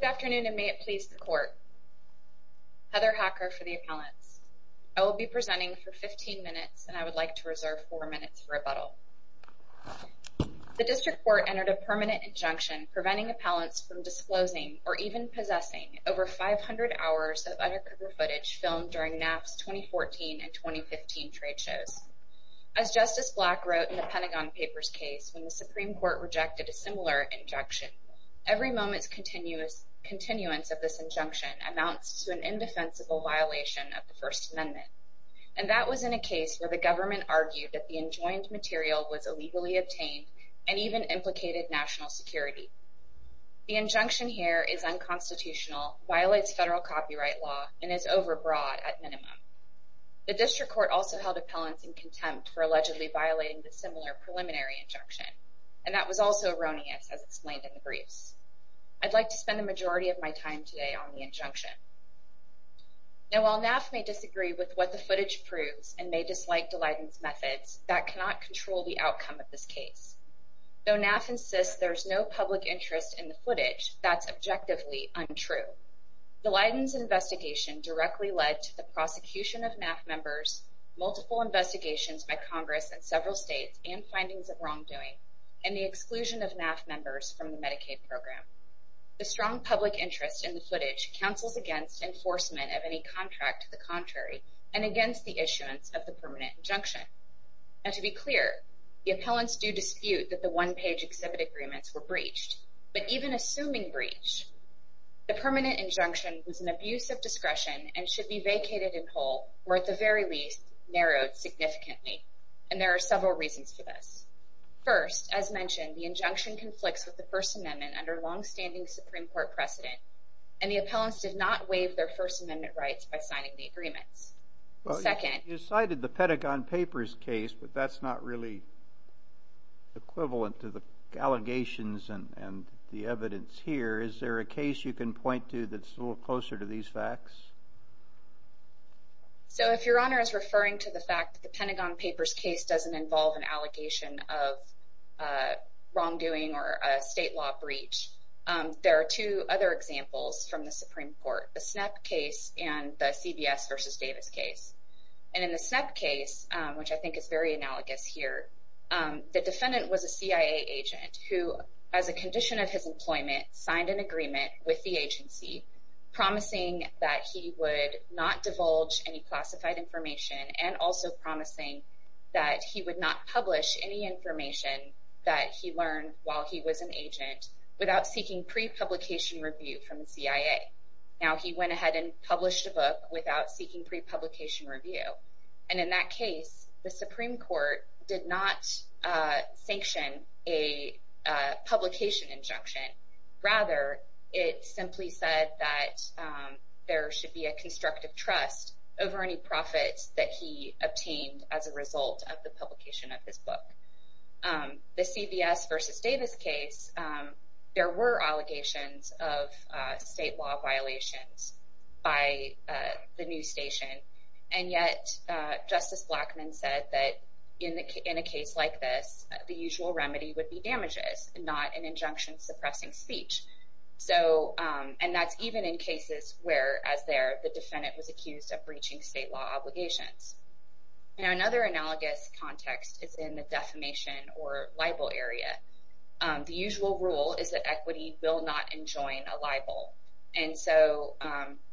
Good afternoon, and may it please the Court. Heather Hacker for the Appellants. I will be presenting for 15 minutes, and I would like to reserve 4 minutes for rebuttal. The District Court entered a permanent injunction preventing appellants from disclosing, or even possessing, over 500 hours of undercover footage filmed during NAF's 2014 and 2015 trade shows. As Justice Black wrote in the Pentagon Papers case when the Supreme Court rejected a similar injunction, every moment's continuance of this injunction amounts to an indefensible violation of the First Amendment. And that was in a case where the government argued that the enjoined material was illegally obtained and even implicated national security. The injunction here is unconstitutional, violates federal copyright law, and is overbroad at minimum. The District Court also held appellants in contempt for allegedly violating the similar preliminary injunction, and that was also erroneous, as explained in the briefs. I'd like to spend the majority of my time today on the injunction. Now, while NAF may disagree with what the footage proves and may dislike Daleiden's methods, that cannot control the outcome of this case. Though NAF insists there's no public interest in the footage, that's objectively untrue. Daleiden's investigation directly led to the prosecution of NAF members, multiple investigations by Congress in several states, and findings of wrongdoing, and the exclusion of NAF members from the Medicaid program. The strong public interest in the footage counsels against enforcement of any contract to the contrary and against the issuance of the permanent injunction. Now, to be clear, the appellants do dispute that the one-page exhibit agreements were breached, but even assuming breach, the permanent injunction was an abuse of discretion and should be vacated in whole, or at the very least, narrowed significantly. And there are several reasons for this. First, as mentioned, the injunction conflicts with the First Amendment under long-standing Supreme Court precedent, and the appellants did not waive their First Amendment rights by signing the agreements. Well, you cited the Pentagon Papers case, but that's not really equivalent to the allegations and the evidence here. Is there a case you can point to that's a little closer to these facts? So, if Your Honor is referring to the fact that the Pentagon Papers case doesn't involve an allegation of wrongdoing or a state law breach, there are two other examples from the Supreme Court, the SNEP case and the CBS v. Davis case. And in the SNEP case, which I think is very analogous here, the defendant was a CIA agent who, as a condition of his employment, signed an agreement with the agency promising that he would not divulge any classified information and also promising that he would not publish any information that he learned while he was an agent without seeking pre-publication review from the CIA. Now, he went ahead and published a book without seeking pre-publication review. And in that case, the Supreme Court did not sanction a publication injunction. Rather, it simply said that there should be a constructive trust over any profits that he obtained as a result of the publication of his book. The CBS v. Davis case, there were allegations of state law violations by the news station. And yet, Justice Blackmun said that in a case like this, the usual remedy would be damages, not an injunction suppressing speech. And that's even in cases where, as there, the defendant was accused of breaching state law obligations. Now, another analogous context is in the defamation or libel area. The usual rule is that equity will not enjoin a libel. And so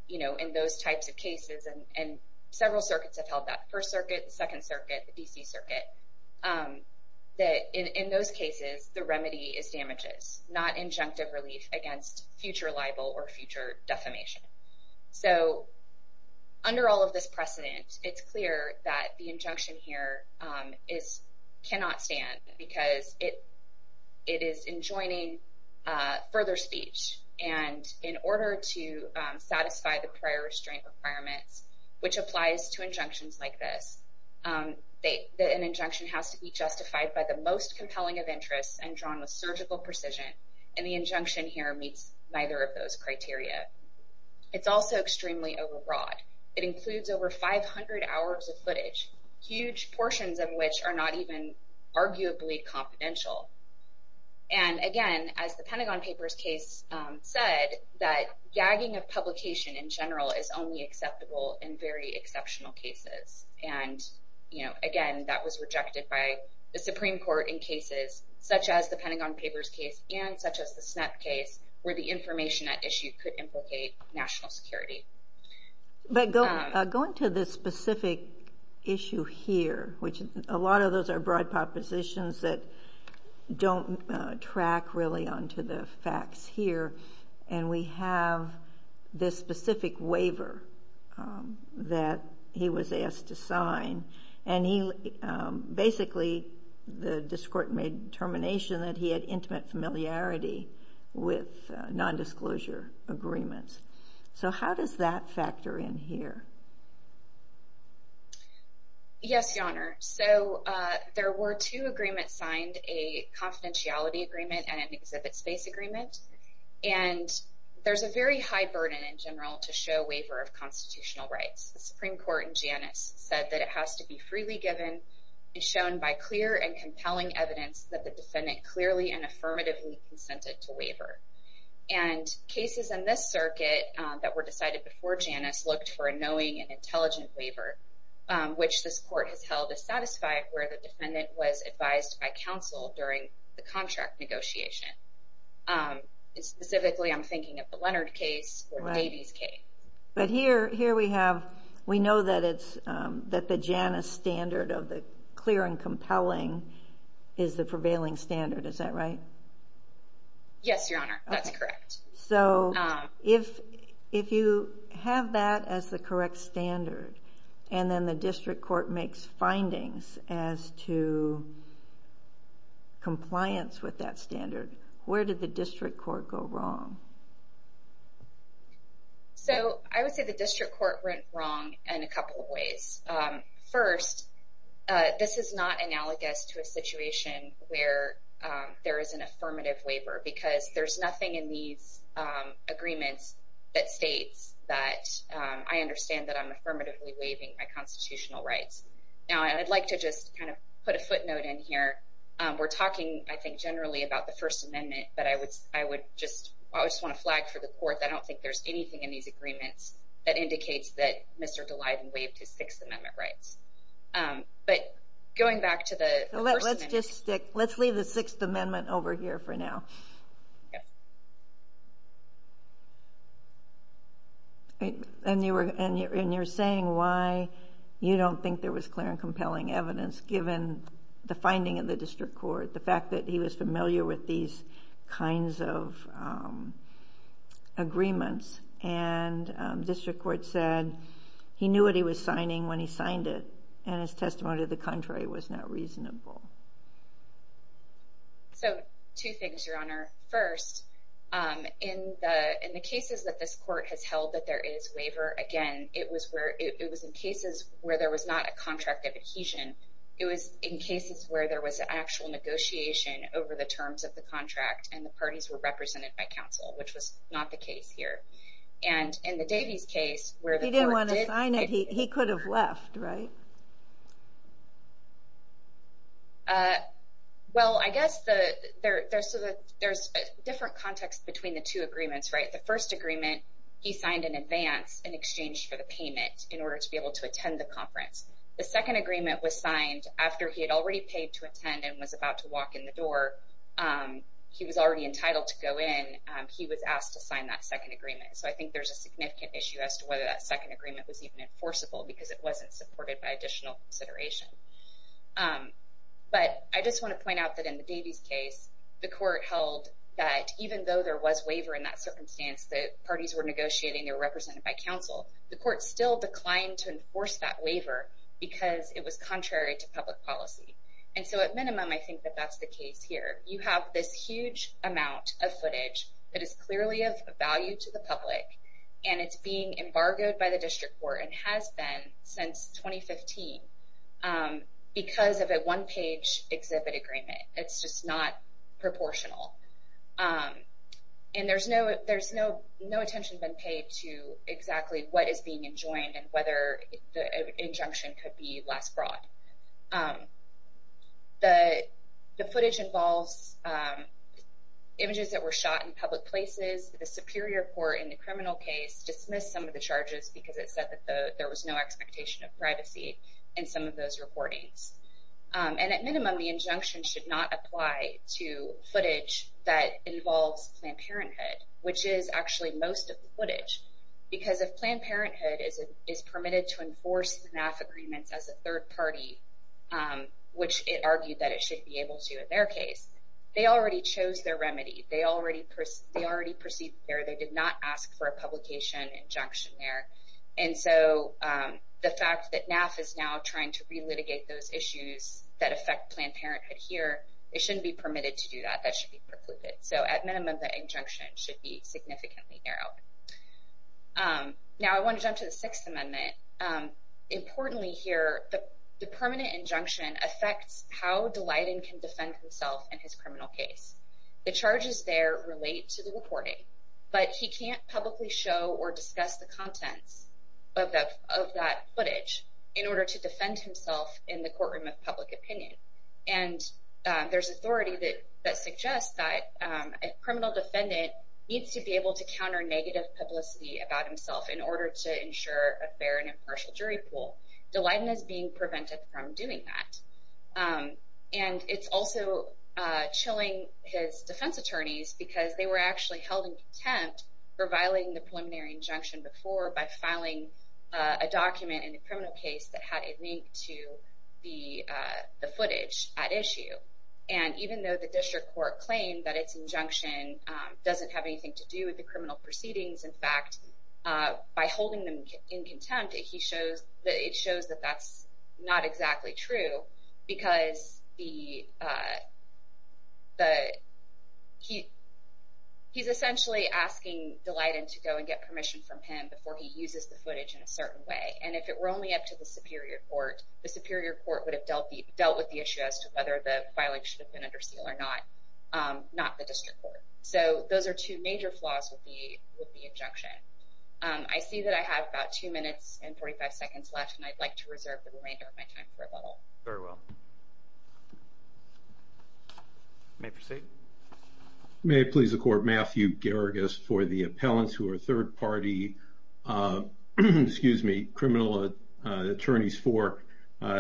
in those types of cases, and several circuits have held that, First Circuit, Second Circuit, the D.C. Circuit, that in those cases, the remedy is damages, not injunctive relief against future libel or future defamation. So under all of this precedent, it's clear that the injunction here cannot stand because it is enjoining further speech. And in order to satisfy the prior restraint requirements, which applies to injunctions like this, an injunction has to be justified by the most compelling of interests and drawn with surgical precision. And the injunction here meets neither of those criteria. It's also extremely overbroad. It includes over 500 hours of footage, huge portions of which are not even arguably confidential. And again, as the Pentagon Papers case said, that gagging of publication in general is only acceptable in very exceptional cases. And, you know, again, that was rejected by the Supreme Court in cases such as the Pentagon Papers case and such as the SNEP case, where the information at issue could implicate national security. But going to this specific issue here, which a lot of those are broad propositions that don't track really onto the facts here, and we have this specific waiver that he was asked to sign. And he basically, the district made a determination that he had intimate familiarity with nondisclosure agreements. So how does that factor in here? Yes, Your Honor. So there were two agreements signed, a confidentiality agreement and an exhibit space agreement. And there's a very high burden in general to show waiver of constitutional rights. The Supreme Court in Janus said that it has to be freely given and shown by clear and compelling evidence And cases in this circuit that were decided before Janus looked for a knowing and intelligent waiver, which this court has held to satisfy where the defendant was advised by counsel during the contract negotiation. Specifically, I'm thinking of the Leonard case or the Davies case. But here we have, we know that the Janus standard of the clear and compelling is the prevailing standard. Is that right? Yes, Your Honor. That's correct. So if you have that as the correct standard, and then the district court makes findings as to compliance with that standard, where did the district court go wrong? So I would say the district court went wrong in a couple of ways. First, this is not analogous to a situation where there is an affirmative waiver, because there's nothing in these agreements that states that I understand that I'm affirmatively waiving my constitutional rights. Now, I'd like to just kind of put a footnote in here. We're talking, I think, generally about the First Amendment, but I would just want to flag for the court that I don't think there's anything in these agreements that indicates that Mr. Dalyden waived his Sixth Amendment rights. But going back to the First Amendment... So let's just stick, let's leave the Sixth Amendment over here for now. And you're saying why you don't think there was clear and compelling evidence, given the finding of the district court, the fact that he was familiar with these kinds of agreements. And district court said he knew what he was signing when he signed it, and his testimony to the contrary was not reasonable. So two things, Your Honor. First, in the cases that this court has held that there is waiver, again, it was in cases where there was not a contract of adhesion. It was in cases where there was actual negotiation over the terms of the contract, and the parties were represented by counsel, which was not the case here. And in the Davies case, where the court did... He didn't want to sign it. He could have left, right? Well, I guess there's a different context between the two agreements, right? The first agreement, he signed in advance in exchange for the payment in order to be able to attend the conference. The second agreement was signed after he had already paid to attend and was about to walk in the door. He was already entitled to go in. He was asked to sign that second agreement. So I think there's a significant issue as to whether that second agreement was even enforceable because it wasn't supported by additional consideration. But I just want to point out that in the Davies case, the court held that even though there was waiver in that circumstance, the parties were negotiating, they were represented by counsel, the court still declined to enforce that waiver because it was contrary to public policy. And so at minimum, I think that that's the case here. You have this huge amount of footage that is clearly of value to the public, and it's being embargoed by the district court and has been since 2015 because of a one-page exhibit agreement. It's just not proportional. And there's no attention being paid to exactly what is being enjoined and whether the injunction could be less broad. The footage involves images that were shot in public places. The Superior Court in the criminal case dismissed some of the charges because it said that there was no expectation of privacy in some of those recordings. And at minimum, the injunction should not apply to footage that involves Planned Parenthood, which is actually most of the footage, because if Planned Parenthood is permitted to enforce the NAF agreements as a third party, which it argued that it should be able to in their case, they already chose their remedy. They already proceeded there. They did not ask for a publication injunction there. And so the fact that NAF is now trying to relitigate those issues that affect Planned Parenthood here, That should be precluded. So at minimum, the injunction should be significantly narrowed. Now I want to jump to the Sixth Amendment. Importantly here, the permanent injunction affects how Dalyden can defend himself in his criminal case. The charges there relate to the recording, but he can't publicly show or discuss the contents of that footage in order to defend himself in the courtroom of public opinion. And there's authority that suggests that a criminal defendant needs to be able to counter negative publicity about himself in order to ensure a fair and impartial jury pool. Dalyden is being prevented from doing that. And it's also chilling his defense attorneys, because they were actually held in contempt for violating the preliminary injunction before by filing a document in the criminal case that had a link to the footage at issue. And even though the district court claimed that its injunction doesn't have anything to do with the criminal proceedings, in fact, by holding them in contempt, it shows that that's not exactly true, because he's essentially asking Dalyden to go and get permission from him before he uses the footage in a certain way. And if it were only up to the superior court, the superior court would have dealt with the issue as to whether the filing should have been under seal or not, not the district court. So those are two major flaws with the injunction. I see that I have about two minutes and 45 seconds left, and I'd like to reserve the remainder of my time for rebuttal. Very well. May I proceed? May it please the court. Matthew Geragus for the appellants who are third-party criminal attorneys for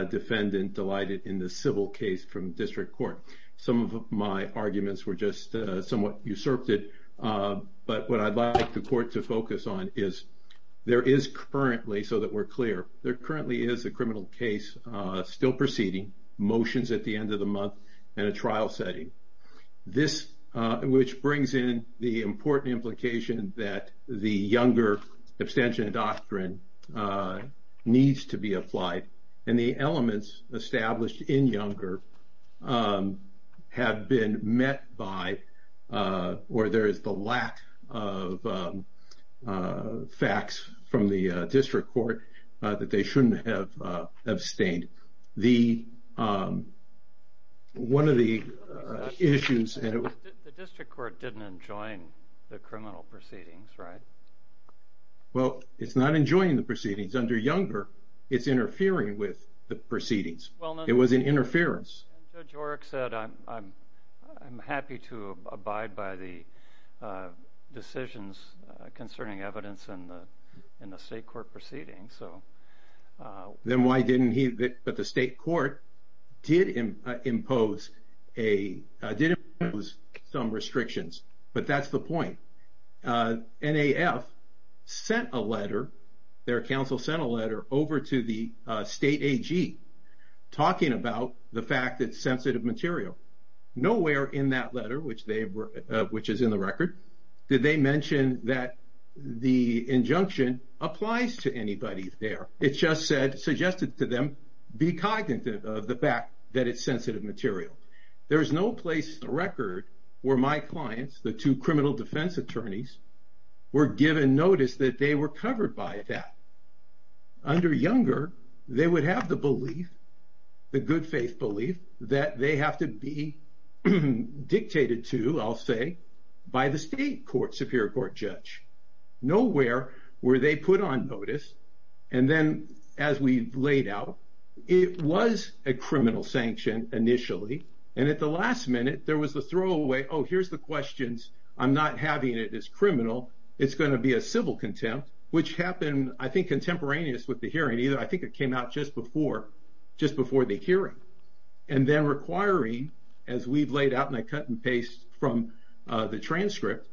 defendant delighted in the civil case from district court. Some of my arguments were just somewhat usurped, but what I'd like the court to focus on is there is currently, so that we're clear, there currently is a criminal case still proceeding, motions at the end of the month, and a trial setting. This, which brings in the important implication that the Younger abstention doctrine needs to be applied, and the elements established in Younger have been met by, or there is the lack of facts from the district court that they shouldn't have abstained. One of the issues. The district court didn't enjoin the criminal proceedings, right? Well, it's not enjoining the proceedings. Under Younger, it's interfering with the proceedings. It was an interference. Judge Oreck said, I'm happy to abide by the decisions concerning evidence in the state court proceedings. Then why didn't he, but the state court did impose some restrictions, but that's the point. NAF sent a letter, their counsel sent a letter over to the state AG talking about the fact that sensitive material. Nowhere in that letter, which is in the record, did they mention that the injunction applies to anybody there. It just said, suggested to them, be cognizant of the fact that it's sensitive material. There is no place in the record where my clients, the two criminal defense attorneys, were given notice that they were covered by that. Under Younger, they would have the belief, the good faith belief, that they have to be dictated to, I'll say, by the state court, superior court judge. Nowhere were they put on notice. Then as we laid out, it was a criminal sanction initially. At the last minute, there was the throwaway, oh, here's the questions. I'm not having it as criminal. It's going to be a civil contempt, which happened, I think, contemporaneous with the hearing. I think it came out just before the hearing. Then requiring, as we've laid out in a cut and paste from the transcript,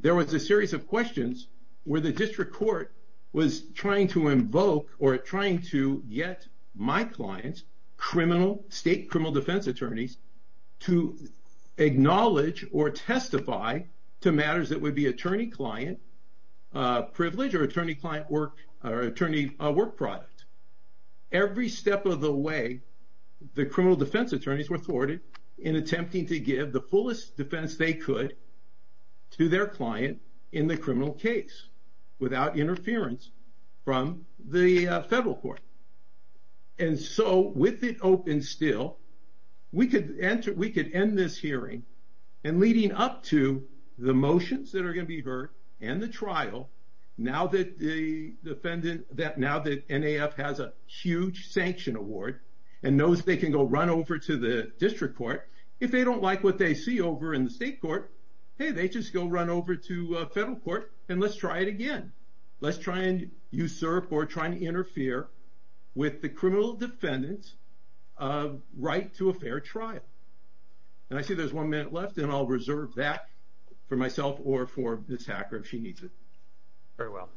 there was a series of questions where the district court was trying to invoke or trying to get my clients, state criminal defense attorneys, to acknowledge or testify to matters that would be attorney-client privilege or attorney-work product. Every step of the way, the criminal defense attorneys were thwarted in attempting to give the fullest defense they could to their client in the criminal case without interference from the federal court. And so with it open still, we could end this hearing, and leading up to the motions that are going to be heard and the trial, now that the defendant, now that NAF has a huge sanction award and knows they can go run over to the district court, if they don't like what they see over in the state court, hey, they just go run over to federal court and let's try it again. Let's try and usurp or try to interfere with the criminal defendant's right to a fair trial. And I see there's one minute left, and I'll reserve that for myself or for Ms. Hacker if she needs it. Very well.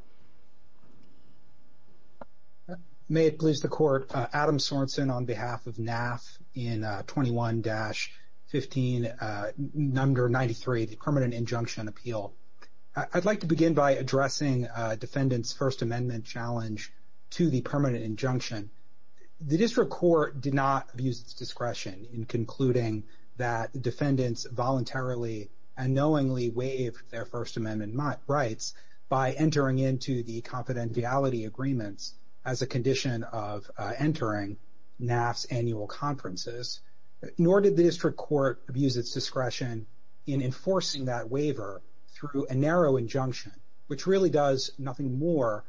May it please the Court. Adam Sorensen on behalf of NAF in 21-15, number 93, the permanent injunction appeal. I'd like to begin by addressing defendants' First Amendment challenge to the permanent injunction. The district court did not use its discretion in concluding that defendants voluntarily and knowingly waived their First Amendment rights by entering into the confidentiality agreements as a condition of entering NAF's annual conferences, nor did the district court use its discretion in enforcing that waiver through a narrow injunction, which really does nothing more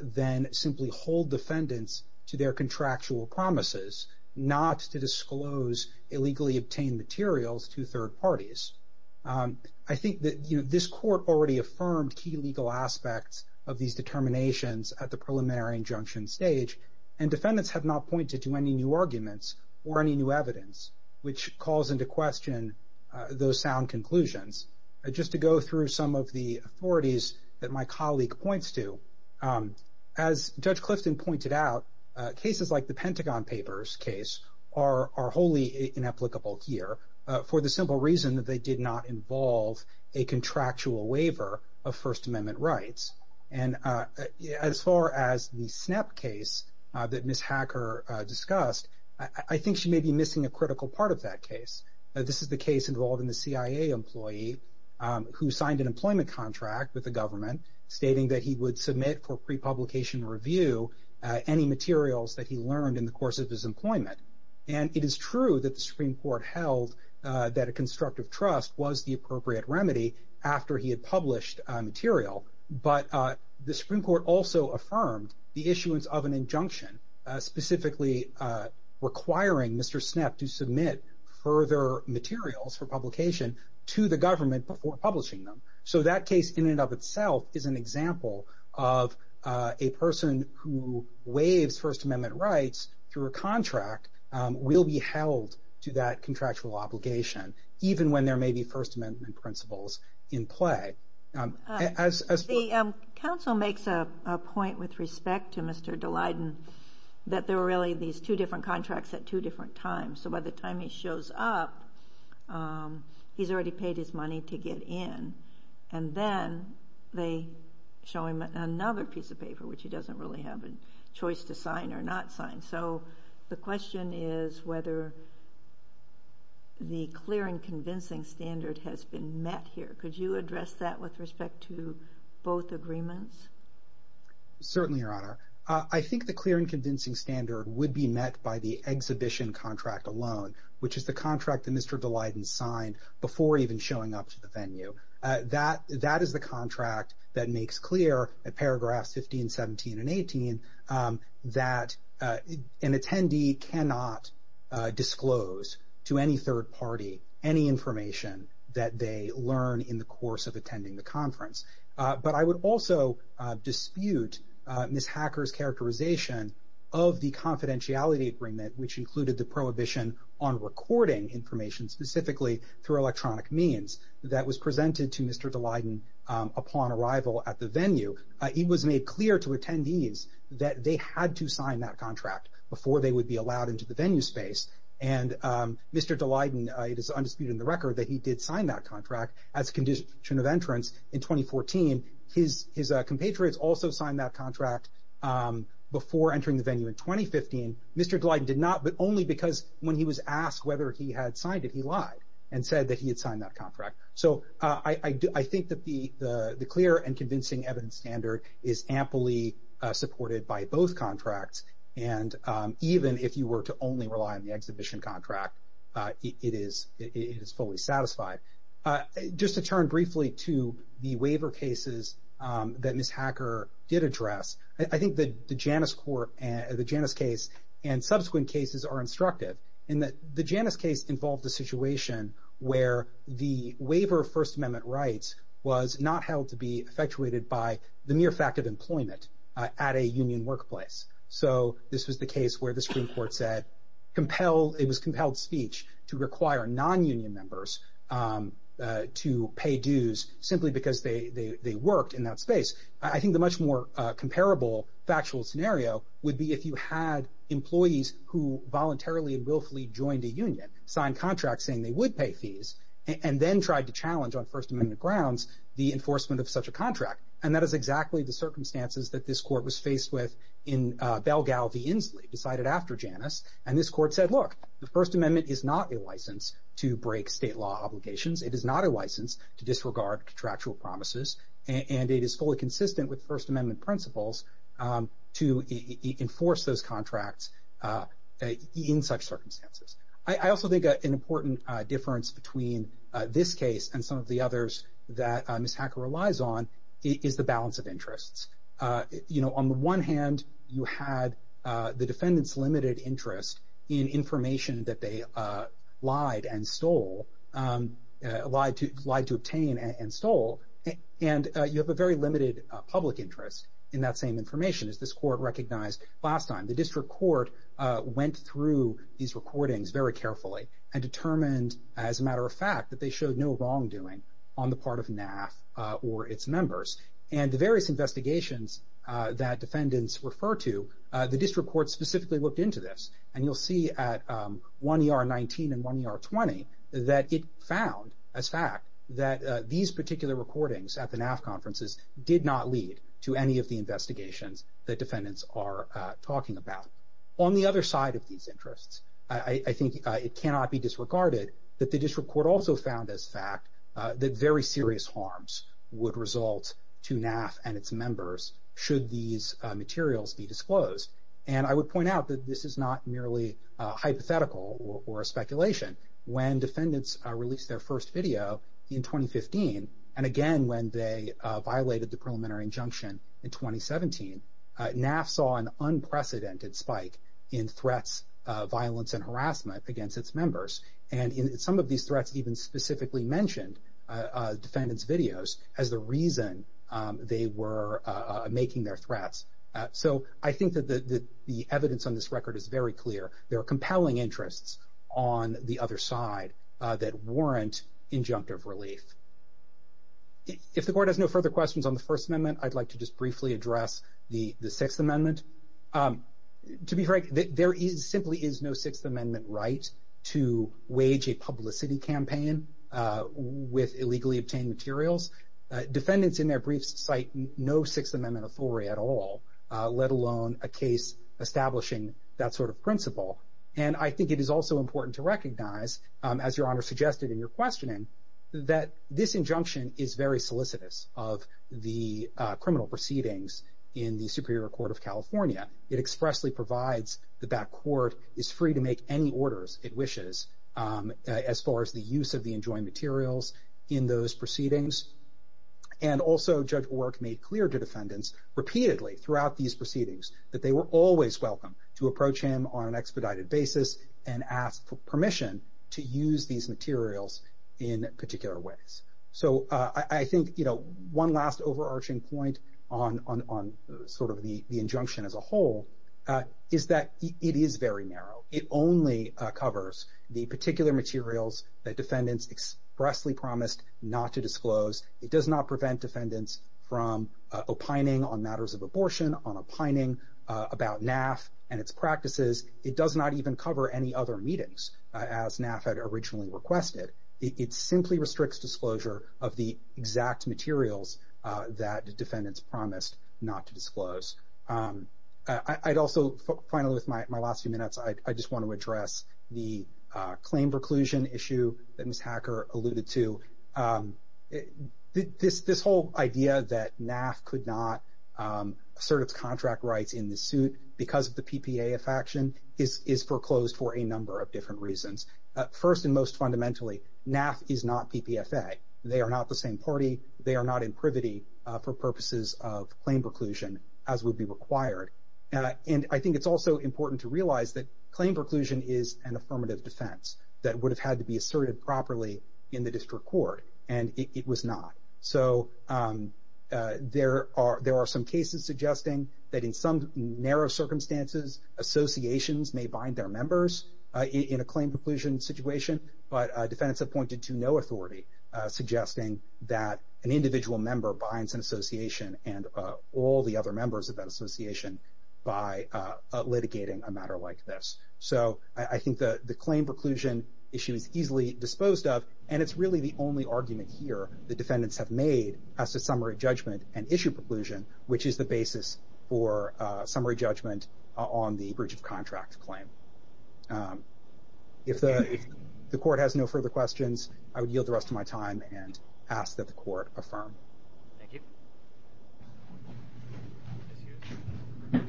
than simply hold defendants to their contractual promises, not to disclose illegally obtained materials to third parties. I think that this court already affirmed key legal aspects of these determinations at the preliminary injunction stage, and defendants have not pointed to any new arguments or any new evidence, which calls into question those sound conclusions. Just to go through some of the authorities that my colleague points to, as Judge Clifton pointed out, cases like the Pentagon Papers case are wholly inapplicable here for the simple reason that they did not involve a contractual waiver of First Amendment rights. And as far as the SNAP case that Ms. Hacker discussed, I think she may be missing a critical part of that case. This is the case involving the CIA employee who signed an employment contract with the government, stating that he would submit for pre-publication review any materials that he learned in the course of his employment. And it is true that the Supreme Court held that a constructive trust was the appropriate remedy after he had published material, but the Supreme Court also affirmed the issuance of an injunction, specifically requiring Mr. SNAP to submit further materials for publication to the government before publishing them. So that case in and of itself is an example of a person who waives First Amendment rights through a contract will be held to that contractual obligation, even when there may be First Amendment principles in play. The Council makes a point with respect to Mr. Daleiden that there were really these two different contracts at two different times. So by the time he shows up, he's already paid his money to get in. And then they show him another piece of paper, which he doesn't really have a choice to sign or not sign. So the question is whether the clear and convincing standard has been met here. Could you address that with respect to both agreements? Certainly, Your Honor. I think the clear and convincing standard would be met by the exhibition contract alone, which is the contract that Mr. Daleiden signed before even showing up to the venue. That is the contract that makes clear in paragraphs 15, 17, and 18 that an attendee cannot disclose to any third party any information that they learn in the course of attending the conference. But I would also dispute Ms. Hacker's characterization of the confidentiality agreement, which included the prohibition on recording information specifically through electronic means that was presented to Mr. Daleiden upon arrival at the venue. It was made clear to attendees that they had to sign that contract before they would be allowed into the venue space. And Mr. Daleiden, it is undisputed in the record that he did sign that contract as a condition of entrance in 2014. His compatriots also signed that contract before entering the venue in 2015. Mr. Daleiden did not, but only because when he was asked whether he had signed it, he lied and said that he had signed that contract. So I think that the clear and convincing evidence standard is amply supported by both contracts. And even if you were to only rely on the exhibition contract, it is fully satisfied. Just to turn briefly to the waiver cases that Ms. Hacker did address, I think that the Janus case and subsequent cases are instructive, in that the Janus case involved a situation where the waiver of First Amendment rights was not held to be effectuated by the mere fact of employment at a union workplace. So this was the case where the Supreme Court said it was compelled speech to require non-union members to pay dues simply because they worked in that space. I think the much more comparable factual scenario would be if you had employees who voluntarily and willfully joined a union, signed contracts saying they would pay fees, and then tried to challenge on First Amendment grounds the enforcement of such a contract. And that is exactly the circumstances that this court was faced with in Belgao v. Inslee, decided after Janus, and this court said, look, the First Amendment is not a license to break state law obligations. It is not a license to disregard contractual promises, and it is fully consistent with First Amendment principles to enforce those contracts in such circumstances. I also think an important difference between this case and some of the others that Ms. Hacker relies on, is the balance of interests. You know, on the one hand, you had the defendant's limited interest in information that they lied and stole, lied to obtain and stole, and you have a very limited public interest in that same information, as this court recognized last time. The district court went through these recordings very carefully and determined, as a matter of fact, that they showed no wrongdoing on the part of NAF or its members. And the various investigations that defendants refer to, the district court specifically looked into this, and you'll see at 1ER19 and 1ER20 that it found, as fact, that these particular recordings at the NAF conferences did not lead to any of the investigations that defendants are talking about. On the other side of these interests, I think it cannot be disregarded that the district court also found, as fact, that very serious harms would result to NAF and its members should these materials be disclosed. And I would point out that this is not merely hypothetical or a speculation. When defendants released their first video in 2015, and again when they violated the preliminary injunction in 2017, NAF saw an unprecedented spike in threats, violence, and harassment against its members. And some of these threats even specifically mentioned defendants' videos as the reason they were making their threats. So I think that the evidence on this record is very clear. There are compelling interests on the other side that warrant injunctive relief. If the court has no further questions on the First Amendment, I'd like to just briefly address the Sixth Amendment. To be frank, there simply is no Sixth Amendment right to wage a publicity campaign with illegally obtained materials. Defendants in their briefs cite no Sixth Amendment authority at all, let alone a case establishing that sort of principle. And I think it is also important to recognize, as Your Honor suggested in your questioning, that this injunction is very solicitous of the criminal proceedings in the Superior Court of California. It expressly provides the back court is free to make any orders it wishes, as far as the use of the enjoined materials in those proceedings. And also Judge Orrick made clear to defendants repeatedly throughout these proceedings that they were always welcome to approach him on an expedited basis and ask for permission to use these materials in particular ways. So I think, you know, one last overarching point on sort of the injunction as a whole is that it is very narrow. It only covers the particular materials that defendants expressly promised not to disclose. It does not prevent defendants from opining on matters of abortion, on opining about NAF and its practices. It does not even cover any other meetings, as NAF had originally requested. It simply restricts disclosure of the exact materials that defendants promised not to disclose. I'd also, finally with my last few minutes, I just want to address the claim preclusion issue that Ms. Hacker alluded to. This whole idea that NAF could not assert its contract rights in the suit because of the PPA affection is foreclosed for a number of different reasons. First and most fundamentally, NAF is not PPFA. They are not the same party. They are not in privity for purposes of claim preclusion, as would be required. And I think it's also important to realize that claim preclusion is an affirmative defense that would have had to be asserted properly in the district court, and it was not. So there are some cases suggesting that in some narrow circumstances, associations may bind their members in a claim preclusion situation, but defendants have pointed to no authority suggesting that an individual member binds an association and all the other members of that association by litigating a matter like this. So I think the claim preclusion issue is easily disposed of, and it's really the only argument here the defendants have made as to summary judgment and issue preclusion, which is the basis for summary judgment on the breach of contract claim. If the court has no further questions, I would yield the rest of my time and ask that the court affirm. Thank you.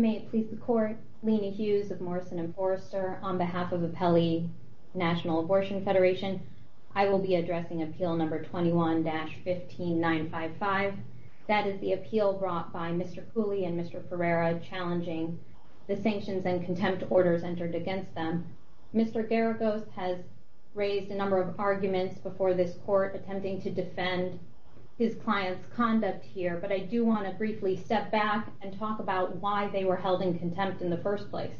May it please the court, Lina Hughes of Morrison and Forrester. On behalf of Apelli National Abortion Federation, I will be addressing Appeal Number 21-15955. That is the appeal brought by Mr. Cooley and Mr. Ferreira, challenging the sanctions and contempt orders entered against them. Mr. Garagos has raised a number of arguments before this court, attempting to defend his client's conduct here, but I do want to briefly step back and talk about why they were held in contempt in the first place.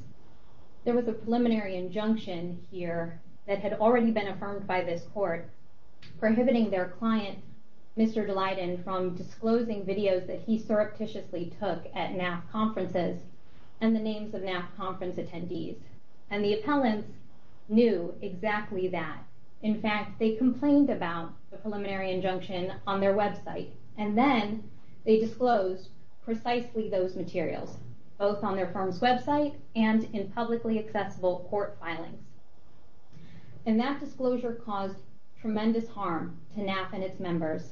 There was a preliminary injunction here that had already been affirmed by this court, prohibiting their client, Mr. Dalyden, from disclosing videos that he surreptitiously took at NAF conferences and the names of NAF conference attendees. And the appellants knew exactly that. In fact, they complained about the preliminary injunction on their website, and then they disclosed precisely those materials, both on their firm's website and in publicly accessible court filings. And that disclosure caused tremendous harm to NAF and its members.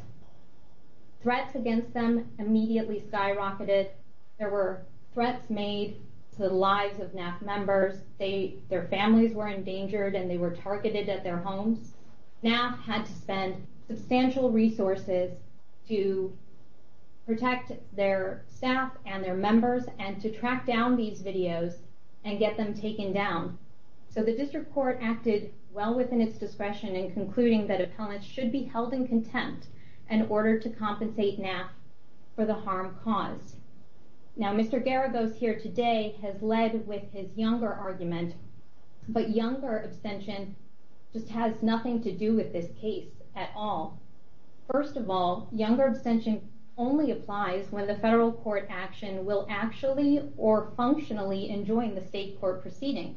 Threats against them immediately skyrocketed. There were threats made to the lives of NAF members. Their families were endangered and they were targeted at their homes. NAF had to spend substantial resources to protect their staff and their members and to track down these videos and get them taken down. So the district court acted well within its discretion in concluding that appellants should be held in contempt in order to compensate NAF for the harm caused. Now, Mr. Garagos here today has led with his younger argument, but younger abstention just has nothing to do with this case at all. First of all, younger abstention only applies when the federal court action will actually or functionally enjoin the state court proceeding.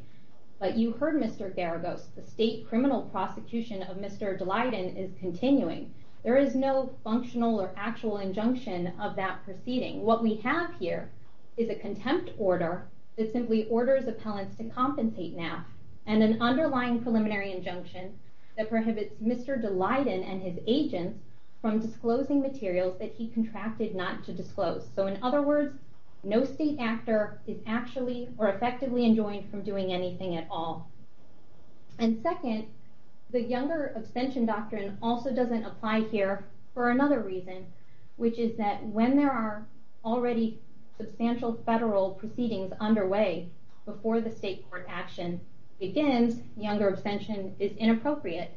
But you heard Mr. Garagos. The state criminal prosecution of Mr. Dalyden is continuing. There is no functional or actual injunction of that proceeding. What we have here is a contempt order that simply orders appellants to compensate NAF and an underlying preliminary injunction that prohibits Mr. Dalyden and his agents from disclosing materials that he contracted not to disclose. So in other words, no state actor is actually or effectively enjoined from doing anything at all. And second, the younger abstention doctrine also doesn't apply here for another reason, which is that when there are already substantial federal proceedings underway before the state court action begins, younger abstention is inappropriate.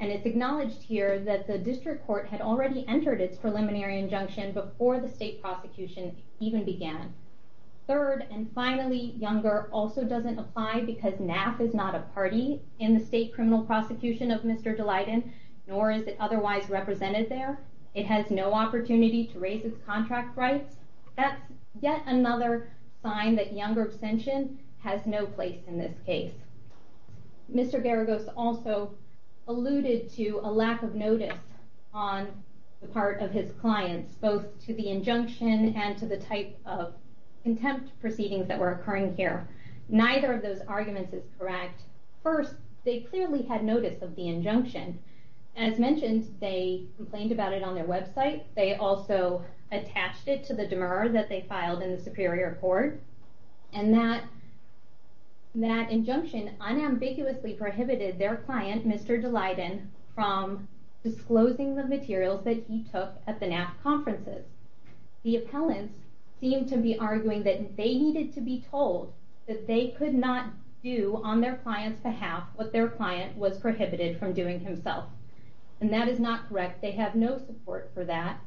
And it's acknowledged here that the district court had already entered its preliminary injunction before the state prosecution even began. Third, and finally, younger also doesn't apply because NAF is not a party in the state criminal prosecution of Mr. Dalyden, nor is it otherwise represented there. It has no opportunity to raise its contract rights. That's yet another sign that younger abstention has no place in this case. Mr. Garagos also alluded to a lack of notice on the part of his clients, both to the injunction and to the type of contempt proceedings that were occurring here. Neither of those arguments is correct. First, they clearly had notice of the injunction. As mentioned, they complained about it on their website. They also attached it to the demurrer that they filed in the Superior Court. And that injunction unambiguously prohibited their client, Mr. Dalyden, from disclosing the materials that he took at the NAF conferences. The appellants seemed to be arguing that they needed to be told that they could not do on their client's behalf what their client was prohibited from doing himself. And that is not correct. They have no support for that.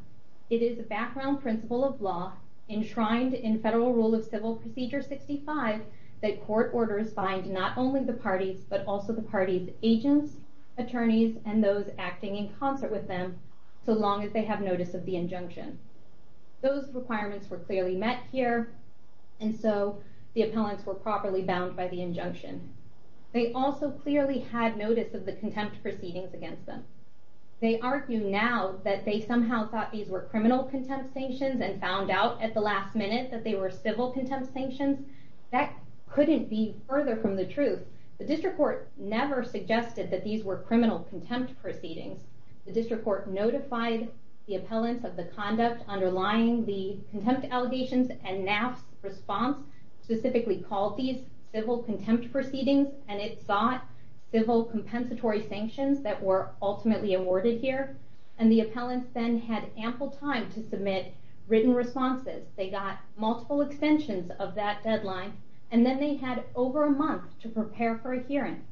It is a background principle of law enshrined in Federal Rule of Civil Procedure 65 that court orders bind not only the parties, but also the parties' agents, attorneys, and those acting in concert with them, so long as they have notice of the injunction. Those requirements were clearly met here, and so the appellants were properly bound by the injunction. They also clearly had notice of the contempt proceedings against them. They argue now that they somehow thought these were criminal contempt sanctions and found out at the last minute that they were civil contempt sanctions. That couldn't be further from the truth. The district court never suggested that these were criminal contempt proceedings. The district court notified the appellants of the conduct underlying the contempt allegations, and NAF's response specifically called these civil contempt proceedings, and it sought civil compensatory sanctions that were ultimately awarded here. And the appellants then had ample time to submit written responses. They got multiple extensions of that deadline, and then they had over a month to prepare for a hearing.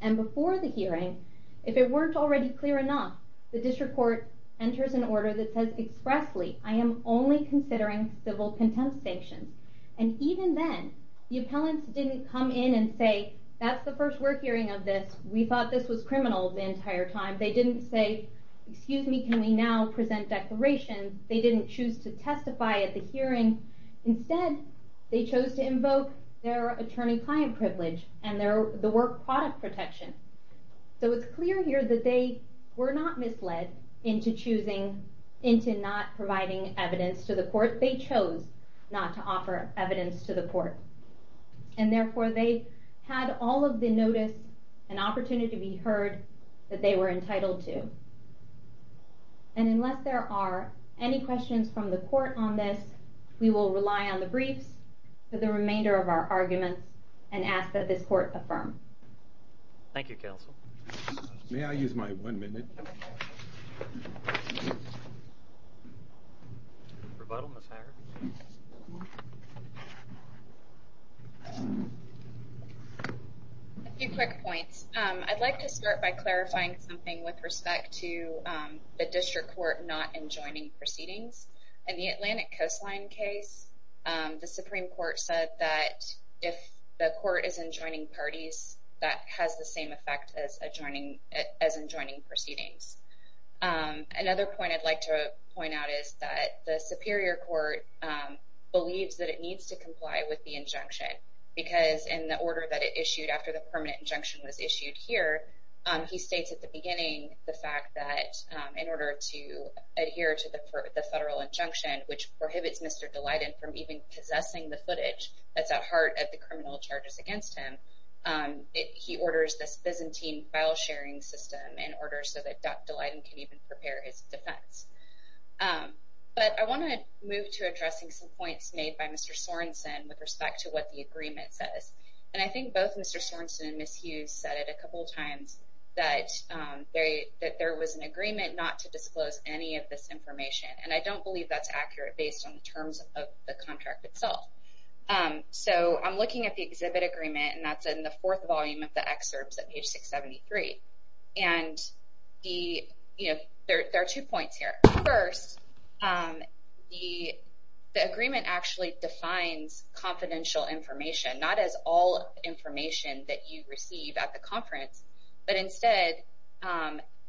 And before the hearing, if it weren't already clear enough, the district court enters an order that says expressly, I am only considering civil contempt sanctions. And even then, the appellants didn't come in and say, that's the first we're hearing of this, we thought this was criminal the entire time. They didn't say, excuse me, can we now present declarations? They didn't choose to testify at the hearing. Instead, they chose to invoke their attorney-client privilege and the work product protection. So it's clear here that they were not misled into choosing, into not providing evidence to the court. They chose not to offer evidence to the court. And therefore, they had all of the notice and opportunity to be heard that they were entitled to. And unless there are any questions from the court on this, we will rely on the briefs for the remainder of our arguments and ask that this court affirm. Thank you, Counsel. May I use my one minute? A few quick points. I'd like to start by clarifying something with respect to the district court not enjoining proceedings. In the Atlantic Coastline case, the Supreme Court said that if the court is enjoining parties, that has the same effect as enjoining proceedings. Another point I'd like to point out is that the Superior Court believes that it needs to comply with the injunction because in the order that it issued after the permanent injunction was issued here, he states at the beginning the fact that in order to adhere to the federal injunction, which prohibits Mr. Dalyden from even possessing the footage that's at heart of the criminal charges against him, he orders this Byzantine file-sharing system in order so that Dr. Dalyden can even prepare his defense. But I want to move to addressing some points made by Mr. Sorensen with respect to what the agreement says. And I think both Mr. Sorensen and Ms. Hughes said it a couple times, that there was an agreement not to disclose any of this information. And I don't believe that's accurate based on the terms of the contract itself. So I'm looking at the exhibit agreement, and that's in the fourth volume of the excerpts at page 673. And there are two points here. First, the agreement actually defines confidential information, not as all information that you receive at the conference, but instead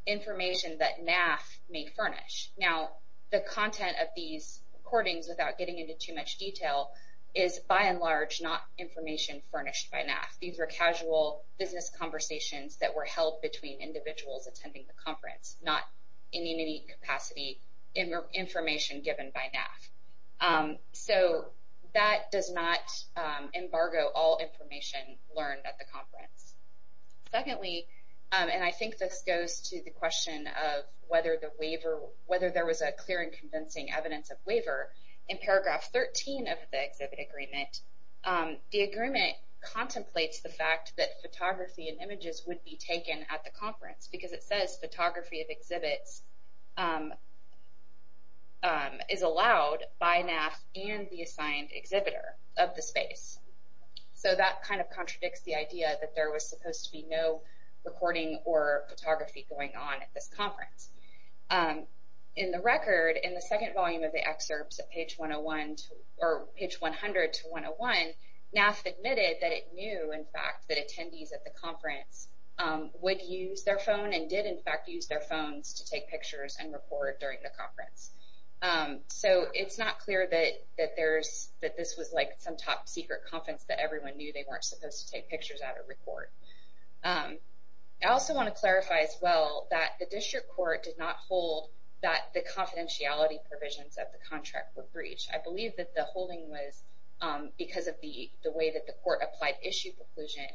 information that NAF may furnish. Now, the content of these recordings, without getting into too much detail, is by and large not information furnished by NAF. These are casual business conversations that were held between individuals attending the conference, not in any capacity information given by NAF. So that does not embargo all information learned at the conference. Secondly, and I think this goes to the question of whether there was a clear and convincing evidence of waiver, in paragraph 13 of the exhibit agreement, the agreement contemplates the fact that photography and images would be taken at the conference, because it says photography of exhibits is allowed by NAF and the assigned exhibitor of the space. So that kind of contradicts the idea that there was supposed to be no recording or photography going on at this conference. In the record, in the second volume of the excerpts at page 101, or page 100 to 101, NAF admitted that it knew, in fact, that attendees at the conference would use their phone, and did, in fact, use their phones to take pictures and record during the conference. So it's not clear that this was some top secret conference that everyone knew they weren't supposed to take pictures at or record. I also want to clarify, as well, that the district court did not hold that the confidentiality provisions of the contract were breached. I believe that the holding was because of the way that the court applied issue preclusion.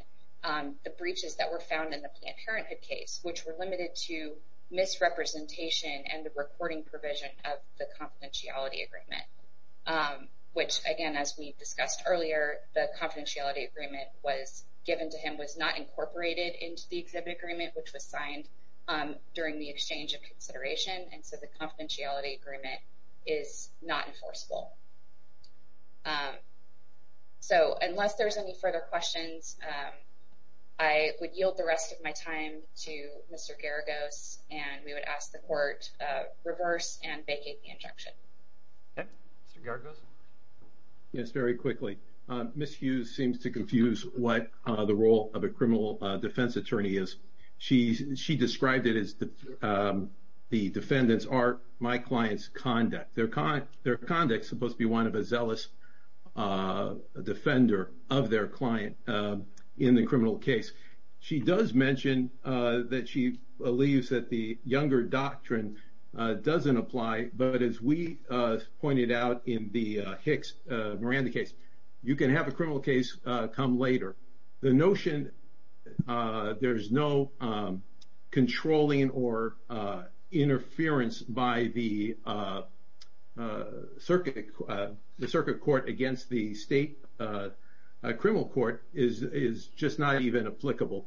The breaches that were found in the Planned Parenthood case, which were limited to misrepresentation and the recording provision of the confidentiality agreement, which, again, as we discussed earlier, the confidentiality agreement given to him was not incorporated into the exhibit agreement, which was signed during the exchange of consideration, and so the confidentiality agreement is not enforceable. So unless there's any further questions, I would yield the rest of my time to Mr. Garagos, and we would ask the court to reverse and vacate the injunction. Mr. Garagos? Yes, very quickly. Ms. Hughes seems to confuse what the role of a criminal defense attorney is. She described it as the defendant's, or my client's, conduct. Their conduct is supposed to be one of a zealous defender of their client in the criminal case. She does mention that she believes that the Younger Doctrine doesn't apply, but as we pointed out in the Hicks-Miranda case, you can have a criminal case come later. The notion there's no controlling or interference by the circuit court against the state criminal court is just not even applicable.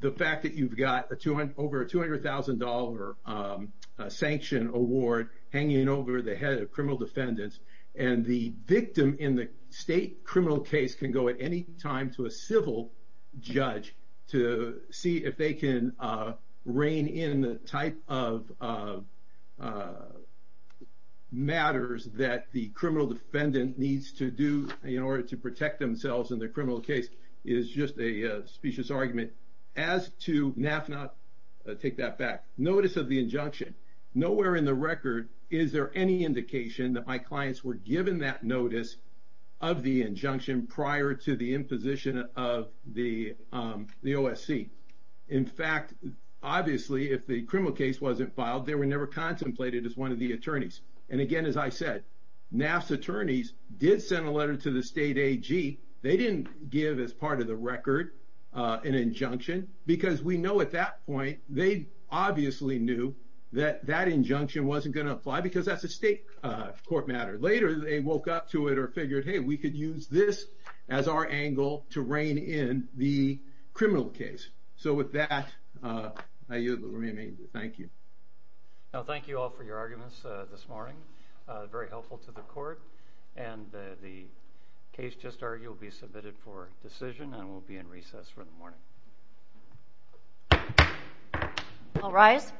The fact that you've got over a $200,000 sanction award hanging over the head of criminal defendants, and the victim in the state criminal case can go at any time to a civil judge to see if they can rein in the type of matters that the criminal defendant needs to do in order to protect themselves in the criminal case is just a specious argument. As to NAF not take that back, notice of the injunction, nowhere in the record is there any indication that my clients were given that notice of the injunction prior to the imposition of the OSC. In fact, obviously, if the criminal case wasn't filed, they were never contemplated as one of the attorneys. Again, as I said, NAF's attorneys did send a letter to the state AG. They didn't give, as part of the record, an injunction, because we know at that point, they obviously knew that that injunction wasn't going to apply because that's a state court matter. Later, they woke up to it or figured, hey, we could use this as our angle to rein in the criminal case. With that, I yield the floor. Thank you. Thank you all for your arguments this morning, very helpful to the court. The case just argued will be submitted for decision and will be in recess for the morning. All rise.